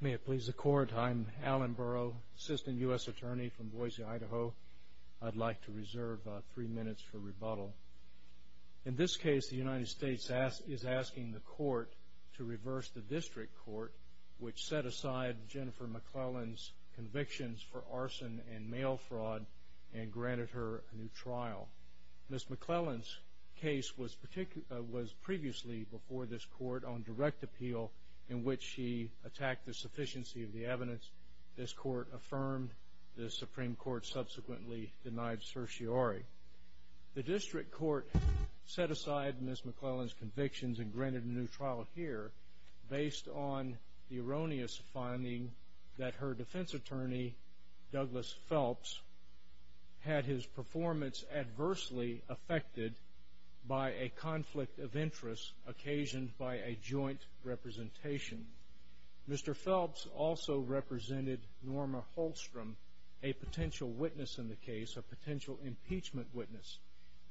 May it please the court, I'm Alan Burrow, Assistant U.S. Attorney from Boise, Idaho. I'd like to reserve three minutes for rebuttal. In this case, the United States is asking the court to reverse the district court which set aside Jennifer McClelland's convictions for arson and mail fraud and granted her a new trial. Ms. McClelland's case was previously before this court on direct appeal in which she attacked the sufficiency of the evidence this court affirmed. The Supreme Court subsequently denied certiorari. The district court set aside Ms. McClelland's convictions and granted a new trial here based on the erroneous finding that her defense attorney, Douglas Phelps, had his performance adversely affected by a conflict of interest occasioned by a joint representation. Mr. Phelps also represented Norma Holstrom, a potential witness in the case, a potential impeachment witness.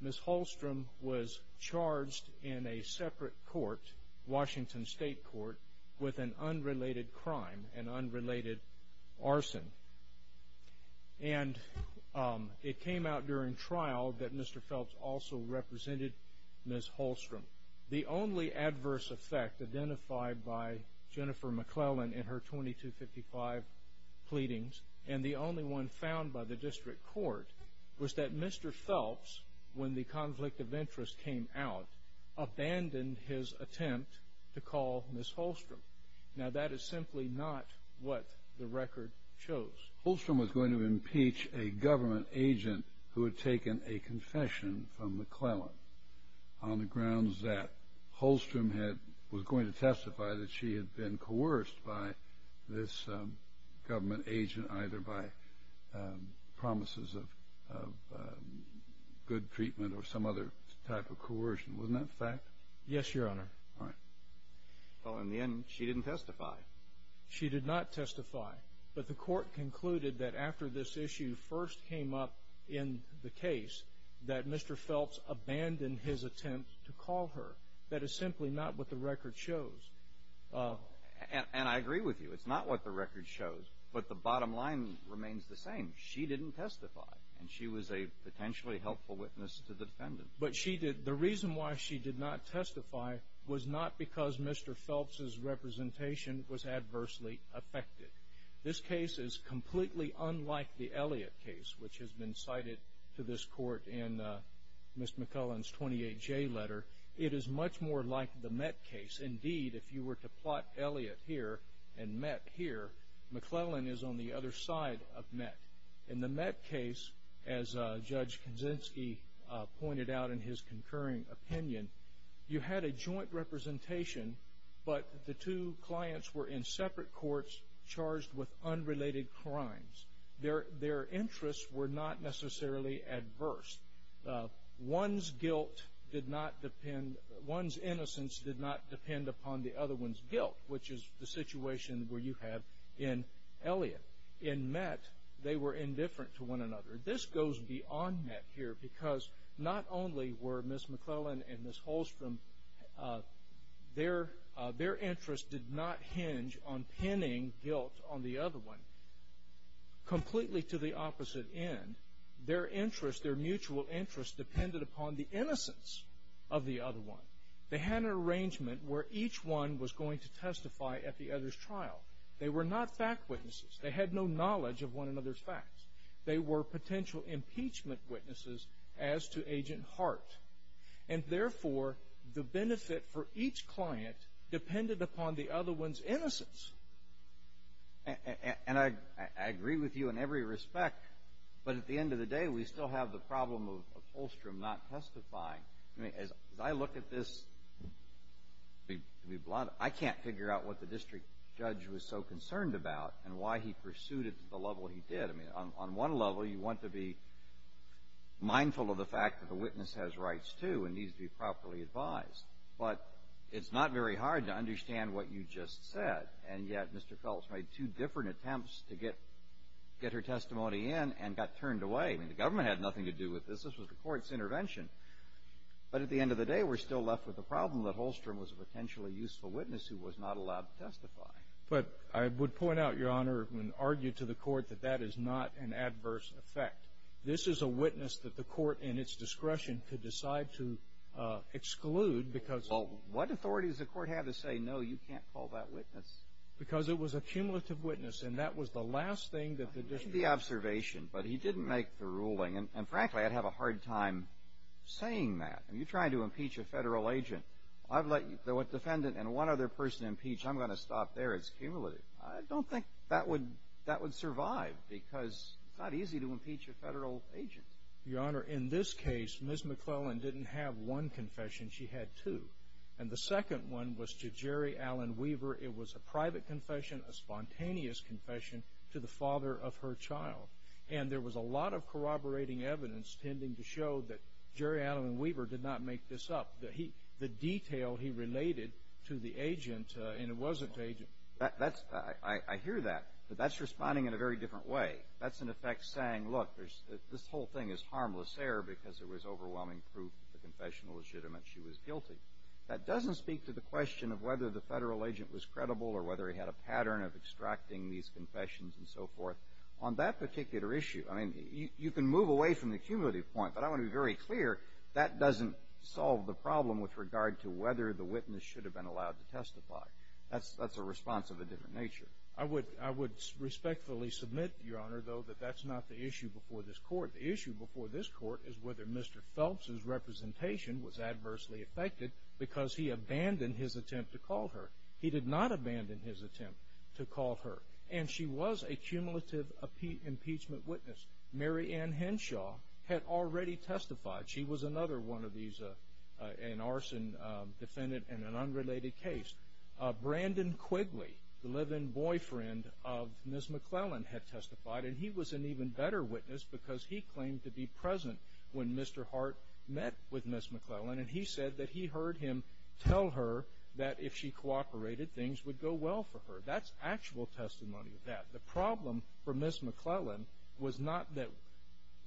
Ms. Holstrom was charged in a separate court, Washington State Court, with an unrelated crime, an unrelated arson. And it came out during trial that Mr. Phelps also represented Ms. Holstrom. The only adverse effect identified by Jennifer McClelland in her 2255 pleadings and the only one found by the district court was that Mr. Phelps, when the conflict of interest came out, abandoned his attempt to call Ms. Holstrom. Now, that is simply not what the record shows. Holstrom was going to impeach a government agent who had taken a confession from McClelland on the grounds that Holstrom was going to testify that she had been coerced by this government agent either by promises of good treatment or some other type of coercion. Wasn't that a fact? Yes, Your Honor. All right. Well, in the end, she didn't testify. She did not testify, but the court concluded that after this issue first came up in the case that Mr. Phelps abandoned his attempt to call her. That is simply not what the record shows. And I agree with you. It's not what the record shows, but the bottom line remains the same. She didn't testify, and she was a potentially helpful witness to the defendant. But the reason why she did not testify was not because Mr. Phelps' representation was adversely affected. This case is completely unlike the Elliott case, which has been cited to this court in Ms. McClelland's 28J letter. It is much more like the Mett case. Indeed, if you were to plot Elliott here and Mett here, McClelland is on the other side of Mett. In the Mett case, as Judge Kaczynski pointed out in his concurring opinion, you had a joint representation, but the two clients were in separate courts charged with unrelated crimes. Their interests were not necessarily adverse. One's innocence did not depend upon the other one's guilt, which is the situation where you have in Elliott. In Mett, they were indifferent to one another. This goes beyond Mett here because not only were Ms. McClelland and Ms. Holstrom, their interests did not hinge on pinning guilt on the other one completely to the opposite end. Their interests, their mutual interests, depended upon the innocence of the other one. They had an arrangement where each one was going to testify at the other's trial. They were not fact witnesses. They had no knowledge of one another's facts. They were potential impeachment witnesses as to Agent Hart, and therefore the benefit for each client depended upon the other one's innocence. And I agree with you in every respect, but at the end of the day, we still have the problem of Holstrom not testifying. I mean, as I look at this, I can't figure out what the district judge was so concerned about and why he pursued it to the level he did. I mean, on one level, you want to be mindful of the fact that the witness has rights too and needs to be properly advised, but it's not very hard to understand what you just said, and yet Mr. Phelps made two different attempts to get her testimony in and got turned away. I mean, the government had nothing to do with this. This was the court's intervention. But at the end of the day, we're still left with the problem that Holstrom was a potentially useful witness who was not allowed to testify. But I would point out, Your Honor, and argue to the court that that is not an adverse effect. This is a witness that the court, in its discretion, could decide to exclude because of... Well, what authority does the court have to say, no, you can't call that witness? Because it was a cumulative witness, and that was the last thing that the district... I mean, you're trying to impeach a federal agent. I've let a defendant and one other person impeach. I'm going to stop there. It's cumulative. I don't think that would survive because it's not easy to impeach a federal agent. Your Honor, in this case, Ms. McClellan didn't have one confession. She had two, and the second one was to Jerry Allen Weaver. It was a private confession, a spontaneous confession to the father of her child, and there was a lot of corroborating evidence tending to show that Jerry Allen Weaver did not make this up, the detail he related to the agent, and it wasn't the agent. I hear that, but that's responding in a very different way. That's, in effect, saying, look, this whole thing is harmless error because there was overwhelming proof that the confession was legitimate. She was guilty. That doesn't speak to the question of whether the federal agent was credible or whether he had a pattern of extracting these confessions and so forth. On that particular issue, I mean, you can move away from the cumulative point, but I want to be very clear that doesn't solve the problem with regard to whether the witness should have been allowed to testify. That's a response of a different nature. I would respectfully submit, Your Honor, though, that that's not the issue before this Court. The issue before this Court is whether Mr. Phelps's representation was adversely affected because he abandoned his attempt to call her. He did not abandon his attempt to call her, and she was a cumulative impeachment witness. Mary Ann Henshaw had already testified. She was another one of these, an arson defendant in an unrelated case. Brandon Quigley, the live-in boyfriend of Ms. McClellan, had testified, and he was an even better witness because he claimed to be present when Mr. Hart met with Ms. McClellan, and he said that he heard him tell her that if she cooperated, things would go well for her. That's actual testimony of that. The problem for Ms. McClellan was not that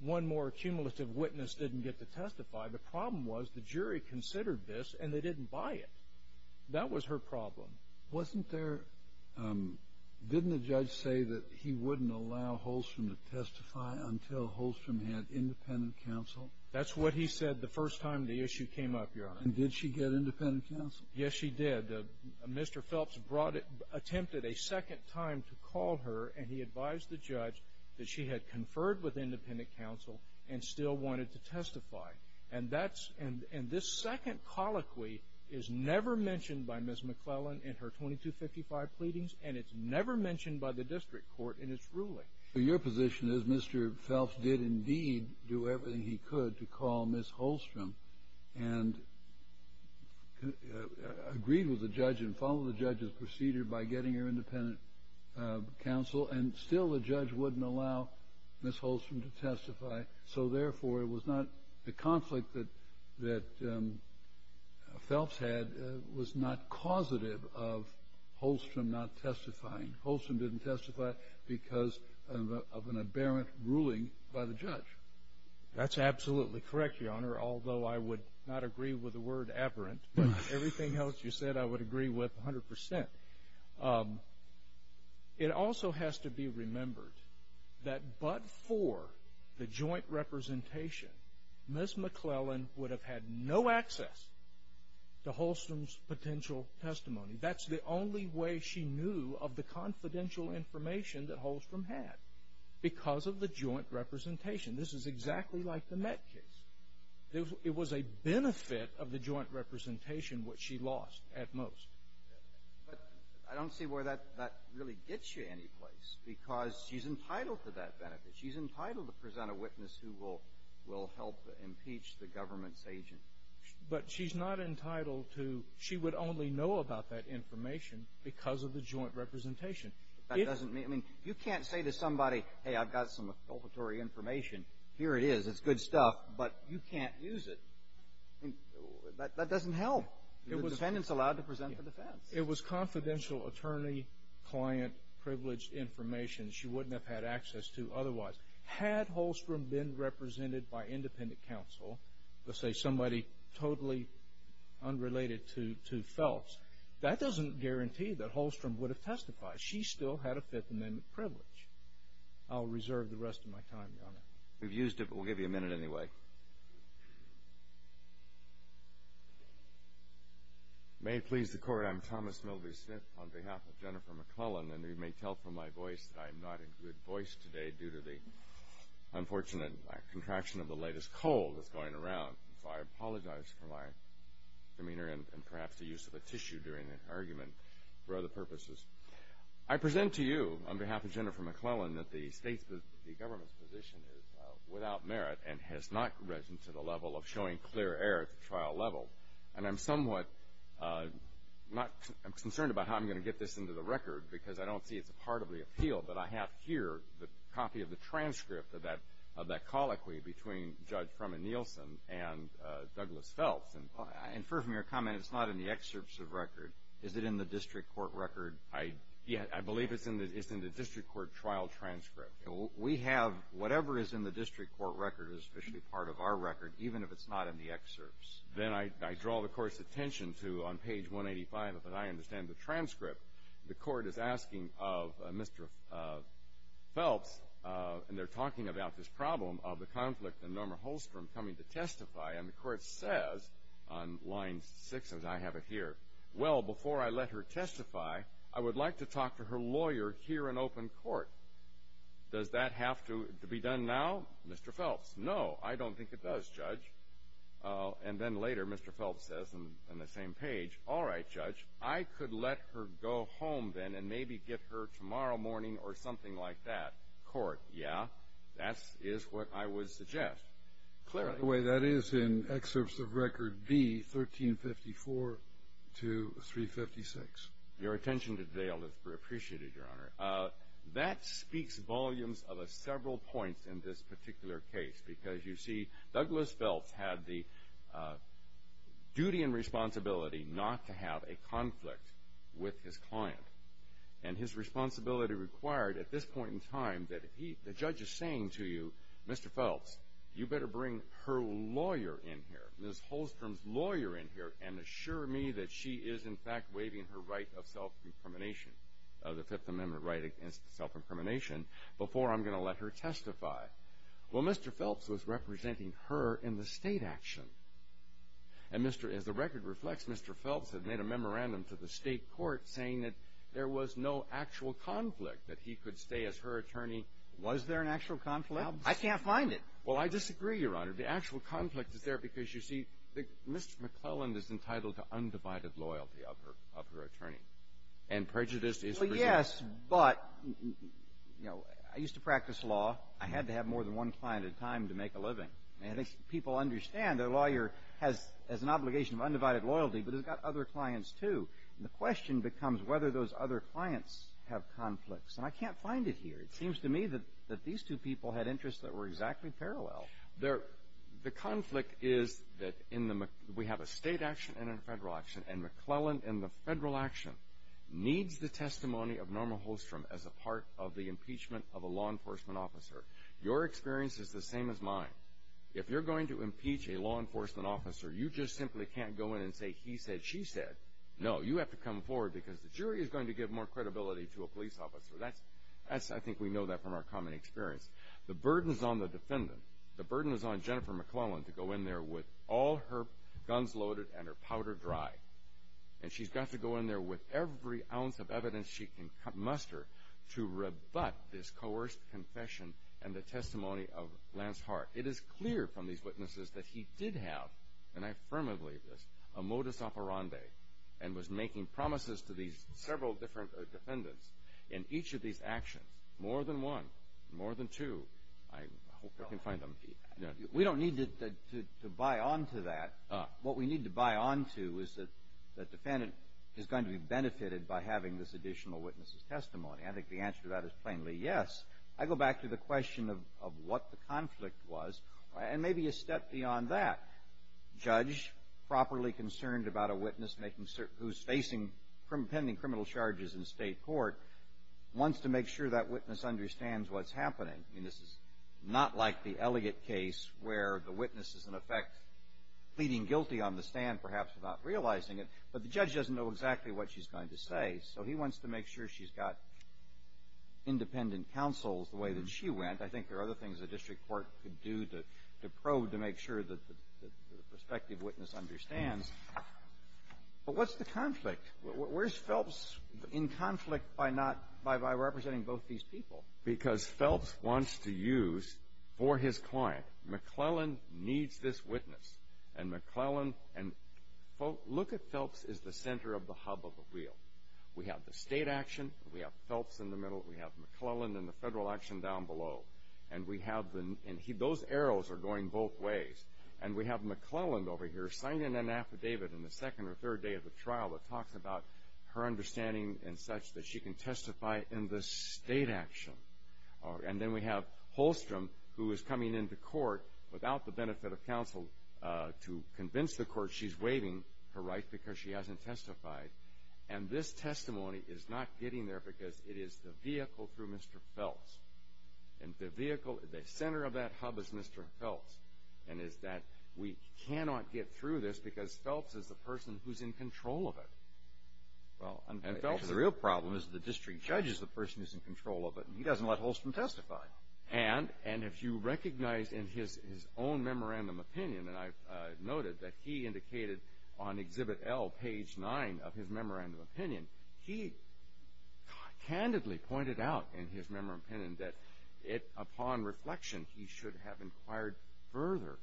one more cumulative witness didn't get to testify. The problem was the jury considered this, and they didn't buy it. That was her problem. Wasn't there – didn't the judge say that he wouldn't allow Holstrom to testify until Holstrom had independent counsel? That's what he said the first time the issue came up, Your Honor. And did she get independent counsel? Yes, she did. And Mr. Phelps brought it – attempted a second time to call her, and he advised the judge that she had conferred with independent counsel and still wanted to testify. And that's – and this second colloquy is never mentioned by Ms. McClellan in her 2255 pleadings, and it's never mentioned by the district court in its ruling. Your position is Mr. Phelps did indeed do everything he could to call Ms. Holstrom and agreed with the judge and followed the judge's procedure by getting her independent counsel, and still the judge wouldn't allow Ms. Holstrom to testify. So, therefore, it was not – the conflict that Phelps had was not causative of Holstrom not testifying. Holstrom didn't testify because of an aberrant ruling by the judge. That's absolutely correct, Your Honor, although I would not agree with the word aberrant, but everything else you said I would agree with 100%. It also has to be remembered that but for the joint representation, Ms. McClellan would have had no access to Holstrom's potential testimony. That's the only way she knew of the confidential information that Holstrom had, because of the joint representation. This is exactly like the Met case. It was a benefit of the joint representation which she lost at most. But I don't see where that really gets you anyplace because she's entitled to that benefit. She's entitled to present a witness who will help impeach the government's agent. But she's not entitled to – she would only know about that information because of the joint representation. You can't say to somebody, hey, I've got some information. Here it is. It's good stuff, but you can't use it. That doesn't help. The defendant's allowed to present for defense. It was confidential attorney-client-privileged information she wouldn't have had access to otherwise. Had Holstrom been represented by independent counsel, let's say somebody totally unrelated to Phelps, that doesn't guarantee that Holstrom would have testified. She still had a Fifth Amendment privilege. I'll reserve the rest of my time, Your Honor. We've used it, but we'll give you a minute anyway. May it please the Court, I'm Thomas Milby Smith on behalf of Jennifer McClellan, and you may tell from my voice that I am not in good voice today due to the unfortunate contraction of the latest cold that's going around. So I apologize for my demeanor and perhaps the use of a tissue during the argument for other purposes. I present to you on behalf of Jennifer McClellan that the government's position is without merit and has not risen to the level of showing clear error at the trial level. And I'm somewhat concerned about how I'm going to get this into the record because I don't see it's a part of the appeal, but I have here the copy of the transcript of that colloquy between Judge Froman Nielsen and Douglas Phelps. And I infer from your comment it's not in the excerpts of record. Is it in the district court record? I believe it's in the district court trial transcript. We have whatever is in the district court record is officially part of our record, even if it's not in the excerpts. Then I draw the Court's attention to on page 185, if I understand the transcript, the Court is asking of Mr. Phelps, and they're talking about this problem of the conflict and Norma Holstrom coming to testify, and the Court says on line 6, as I have it here, well, before I let her testify, I would like to talk to her lawyer here in open court. Does that have to be done now, Mr. Phelps? No, I don't think it does, Judge. And then later, Mr. Phelps says on the same page, all right, Judge, I could let her go home then and maybe get her tomorrow morning or something like that. Court, yeah, that is what I would suggest. By the way, that is in excerpts of record B, 1354 to 356. Your attention to detail is appreciated, Your Honor. That speaks volumes of several points in this particular case because you see Douglas Phelps had the duty and responsibility not to have a conflict with his client, and his responsibility required at this point in time that the judge is saying to you, Mr. Phelps, you better bring her lawyer in here, Ms. Holstrom's lawyer in here, and assure me that she is in fact waiving her right of self-incrimination, the Fifth Amendment right against self-incrimination, before I'm going to let her testify. Well, Mr. Phelps was representing her in the state action. And Mr. — as the record reflects, Mr. Phelps had made a memorandum to the state court saying that there was no actual conflict, that he could stay as her attorney. Was there an actual conflict? I can't find it. Well, I disagree, Your Honor. The actual conflict is there because, you see, Mr. McClelland is entitled to undivided loyalty of her attorney. And prejudice is — Well, yes, but, you know, I used to practice law. I had to have more than one client at a time to make a living. And I think people understand their lawyer has an obligation of undivided loyalty, but it's got other clients, too. And the question becomes whether those other clients have conflicts. And I can't find it here. It seems to me that these two people had interests that were exactly parallel. The conflict is that in the — we have a state action and a federal action, and McClelland in the federal action needs the testimony of Norma Holstrom as a part of the impeachment of a law enforcement officer. Your experience is the same as mine. If you're going to impeach a law enforcement officer, you just simply can't go in and say he said, she said. No, you have to come forward because the jury is going to give more credibility to a police officer. That's — I think we know that from our common experience. The burden is on the defendant. The burden is on Jennifer McClelland to go in there with all her guns loaded and her powder dry. And she's got to go in there with every ounce of evidence she can muster to rebut this coerced confession and the testimony of Lance Hart. It is clear from these witnesses that he did have, and I firmly believe this, a modus operandi and was making promises to these several different defendants in each of these actions, more than one, more than two. I hope I can find them. We don't need to buy onto that. What we need to buy onto is that the defendant is going to be benefited by having this additional witness's testimony. I think the answer to that is plainly yes. I go back to the question of what the conflict was and maybe a step beyond that. A judge properly concerned about a witness making — who's facing pending criminal charges in state court wants to make sure that witness understands what's happening. I mean, this is not like the Elliott case where the witness is, in effect, pleading guilty on the stand, perhaps without realizing it, but the judge doesn't know exactly what she's going to say. So he wants to make sure she's got independent counsels the way that she went. I think there are other things the district court could do to probe to make sure that the prospective witness understands. But what's the conflict? Where's Phelps in conflict by not — by representing both these people? Because Phelps wants to use for his client. McClellan needs this witness. And McClellan — look at Phelps as the center of the hub of the wheel. We have the state action. We have Phelps in the middle. We have McClellan and the federal action down below. And we have the — those arrows are going both ways. And we have McClellan over here signing an affidavit in the second or third day of the trial that talks about her understanding and such that she can testify in the state action. And then we have Holstrom, who is coming into court without the benefit of counsel, to convince the court she's waiving her right because she hasn't testified. And this testimony is not getting there because it is the vehicle through Mr. Phelps. And the vehicle, the center of that hub is Mr. Phelps, and is that we cannot get through this because Phelps is the person who's in control of it. Well, and Phelps — The real problem is the district judge is the person who's in control of it, and he doesn't let Holstrom testify. And if you recognize in his own memorandum opinion, and I've noted that he indicated on Exhibit L, page 9 of his memorandum opinion, he candidly pointed out in his memorandum opinion that upon reflection, he should have inquired further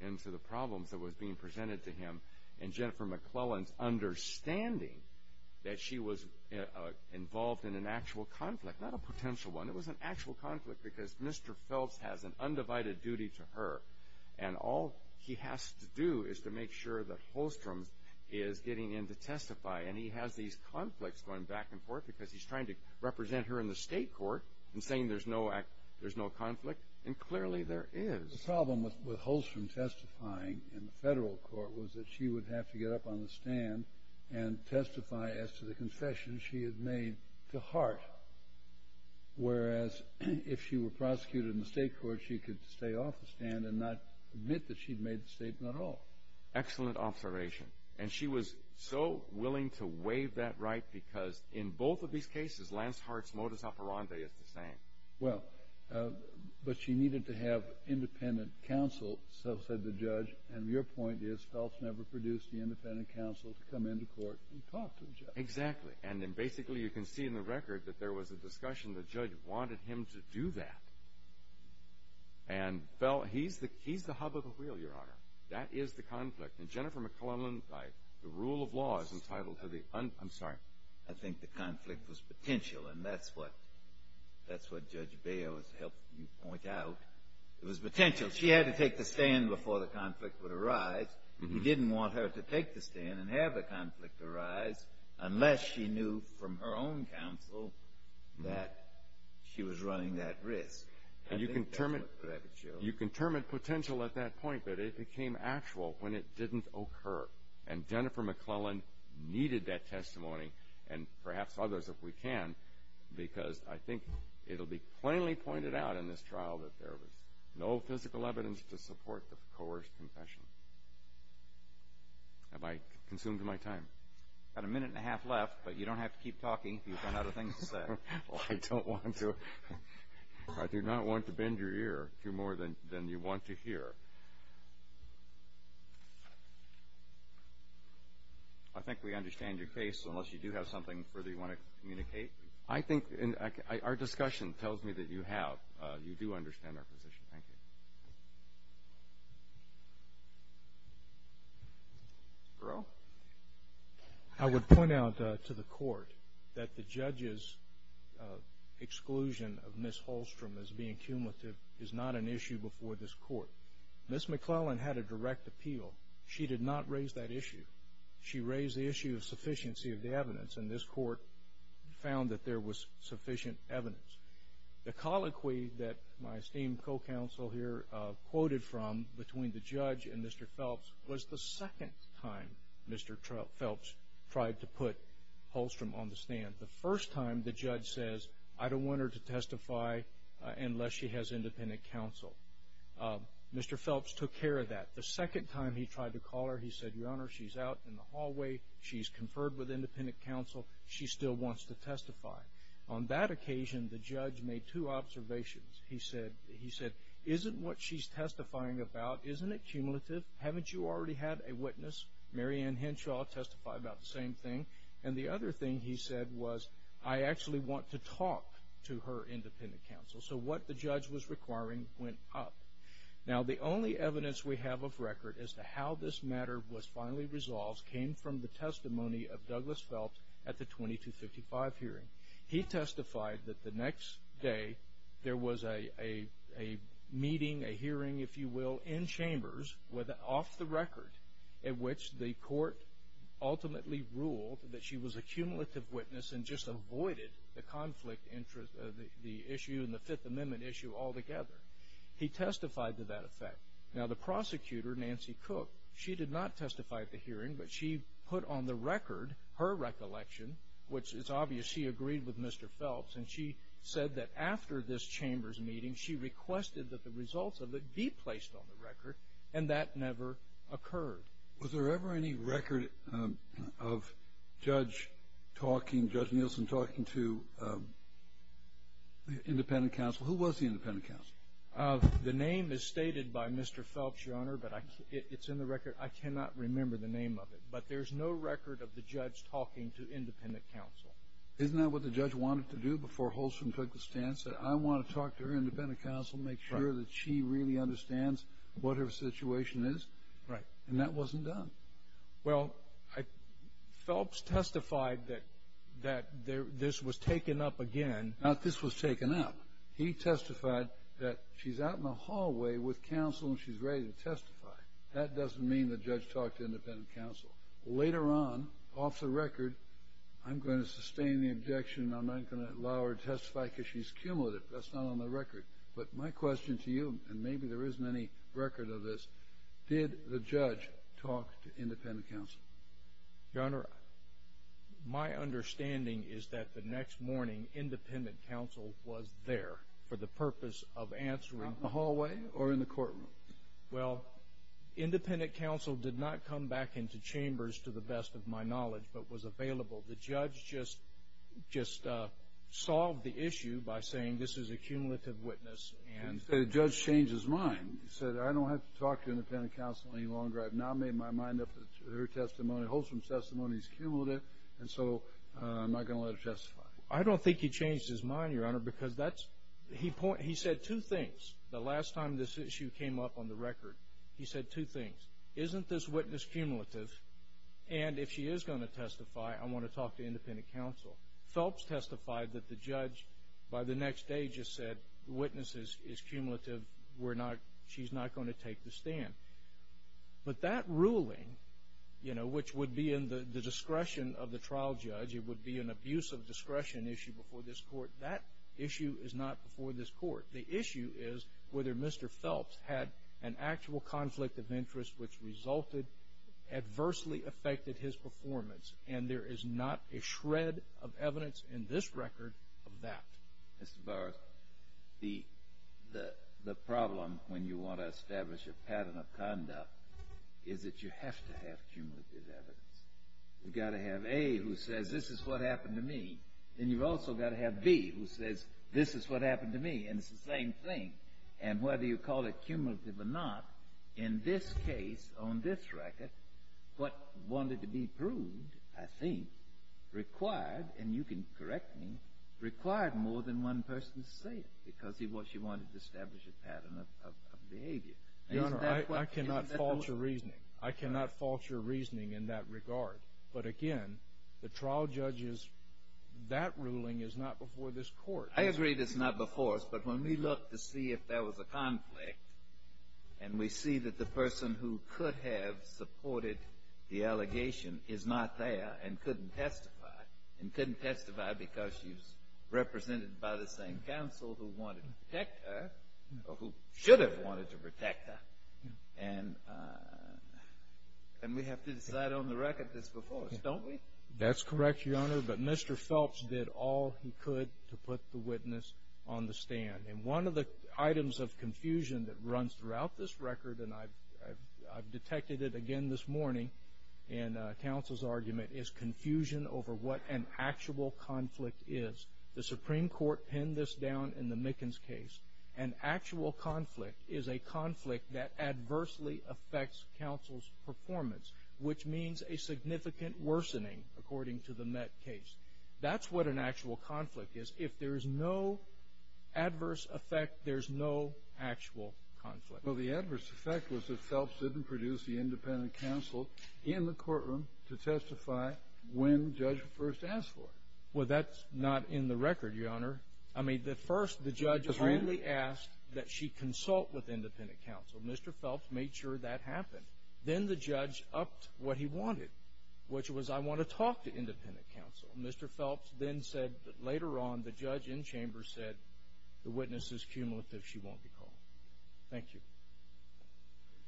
into the problems that was being presented to him in Jennifer McClellan's understanding that she was involved in an actual conflict, not a potential one. It was an actual conflict because Mr. Phelps has an undivided duty to her, and all he has to do is to make sure that Holstrom is getting in to testify. And he has these conflicts going back and forth because he's trying to represent her in the state court and saying there's no conflict, and clearly there is. The problem with Holstrom testifying in the federal court was that she would have to get up on the stand and testify as to the confession she had made to Hart, whereas if she were prosecuted in the state court, she could stay off the stand and not admit that she'd made the statement at all. Excellent observation. And she was so willing to waive that right because in both of these cases, Lance Hart's modus operandi is the same. Well, but she needed to have independent counsel, so said the judge. And your point is Phelps never produced the independent counsel to come into court and talk to the judge. Exactly. And then basically you can see in the record that there was a discussion. The judge wanted him to do that. And Phelps, he's the hub of the wheel, Your Honor. That is the conflict. And Jennifer McClellan, by the rule of law, is entitled to the un- I'm sorry. I think the conflict was potential, and that's what Judge Baio has helped me point out. It was potential. She had to take the stand before the conflict would arise. He didn't want her to take the stand and have the conflict arise unless she knew from her own counsel that she was running that risk. And you can determine potential at that point, but it became actual when it didn't occur. And Jennifer McClellan needed that testimony, and perhaps others if we can, because I think it will be plainly pointed out in this trial that there was no physical evidence to support the coerced confession. Have I consumed my time? You've got a minute and a half left, but you don't have to keep talking. You've got other things to say. Well, I don't want to. I do not want to bend your ear to more than you want to hear. I think we understand your case, unless you do have something further you want to communicate. I think our discussion tells me that you have. You do understand our position. Thank you. Earl? I would point out to the court that the judge's exclusion of Ms. Holstrom as being cumulative is not an issue before this court. Ms. McClellan had a direct appeal. She did not raise that issue. She raised the issue of sufficiency of the evidence, and this court found that there was sufficient evidence. The colloquy that my esteemed co-counsel here quoted from between the judge and Mr. Phelps was the second time Mr. Phelps tried to put Holstrom on the stand. The first time, the judge says, I don't want her to testify unless she has independent counsel. Mr. Phelps took care of that. The second time he tried to call her, he said, Your Honor, she's out in the hallway. She's conferred with independent counsel. She still wants to testify. On that occasion, the judge made two observations. He said, Isn't what she's testifying about, isn't it cumulative? Haven't you already had a witness? Mary Ann Henshaw testified about the same thing. And the other thing he said was, I actually want to talk to her independent counsel. So what the judge was requiring went up. Now, the only evidence we have of record as to how this matter was finally resolved came from the testimony of Douglas Phelps at the 2255 hearing. He testified that the next day there was a meeting, a hearing, if you will, in chambers off the record in which the court ultimately ruled that she was a cumulative witness and just avoided the issue and the Fifth Amendment issue altogether. He testified to that effect. Now, the prosecutor, Nancy Cook, she did not testify at the hearing, but she put on the record her recollection, which it's obvious she agreed with Mr. Phelps, and she said that after this chambers meeting she requested that the results of it be placed on the record, and that never occurred. Was there ever any record of Judge Nielsen talking to the independent counsel? Who was the independent counsel? The name is stated by Mr. Phelps, Your Honor, but it's in the record. I cannot remember the name of it, but there's no record of the judge talking to independent counsel. Isn't that what the judge wanted to do before Holson took the stand, said, I want to talk to her independent counsel, make sure that she really understands what her situation is? Right. And that wasn't done. Well, Phelps testified that this was taken up again. Not this was taken up. He testified that she's out in the hallway with counsel and she's ready to testify. That doesn't mean the judge talked to independent counsel. Later on, off the record, I'm going to sustain the objection. I'm not going to allow her to testify because she's cumulative. That's not on the record. But my question to you, and maybe there isn't any record of this, did the judge talk to independent counsel? Your Honor, my understanding is that the next morning independent counsel was there for the purpose of answering. Out in the hallway or in the courtroom? Well, independent counsel did not come back into chambers, to the best of my knowledge, but was available. The judge just solved the issue by saying this is a cumulative witness. The judge changed his mind. He said, I don't have to talk to independent counsel any longer. I've now made my mind up that her testimony, Holson's testimony, is cumulative, and so I'm not going to let her testify. I don't think he changed his mind, Your Honor, because he said two things. The last time this issue came up on the record, he said two things. Isn't this witness cumulative? And if she is going to testify, I want to talk to independent counsel. Phelps testified that the judge, by the next day, just said the witness is cumulative. She's not going to take the stand. But that ruling, you know, which would be in the discretion of the trial judge, it would be an abuse of discretion issue before this court, that issue is not before this court. The issue is whether Mr. Phelps had an actual conflict of interest which resulted, adversely affected his performance, and there is not a shred of evidence in this record of that. Mr. Burr, the problem when you want to establish a pattern of conduct is that you have to have cumulative evidence. You've got to have A who says this is what happened to me, and you've also got to have B who says this is what happened to me, and it's the same thing. And whether you call it cumulative or not, in this case, on this record, what wanted to be proved, I think, required, and you can correct me, required more than one person to say it because she wanted to establish a pattern of behavior. Your Honor, I cannot fault your reasoning. I cannot fault your reasoning in that regard. But again, the trial judge's, that ruling is not before this court. I agree that it's not before us, but when we look to see if there was a conflict and we see that the person who could have supported the allegation is not there and couldn't testify, and couldn't testify because she was represented by the same counsel who wanted to protect her, or who should have wanted to protect her, and we have to decide on the record that's before us, don't we? That's correct, Your Honor, but Mr. Phelps did all he could to put the witness on the stand. And one of the items of confusion that runs throughout this record, and I've detected it again this morning in counsel's argument, is confusion over what an actual conflict is. The Supreme Court penned this down in the Mickens case. An actual conflict is a conflict that adversely affects counsel's performance, which means a significant worsening, according to the Met case. That's what an actual conflict is. If there is no adverse effect, there's no actual conflict. Well, the adverse effect was that Phelps didn't produce the independent counsel in the courtroom to testify when the judge first asked for it. Well, that's not in the record, Your Honor. I mean, first the judge only asked that she consult with independent counsel. Mr. Phelps made sure that happened. Then the judge upped what he wanted, which was I want to talk to independent counsel. Mr. Phelps then said that later on the judge in chamber said the witness is cumulative. She won't be called. Thank you.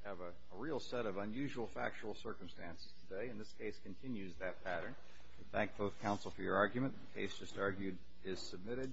We have a real set of unusual factual circumstances today, and this case continues that pattern. We thank both counsel for your argument. The case just argued is submitted.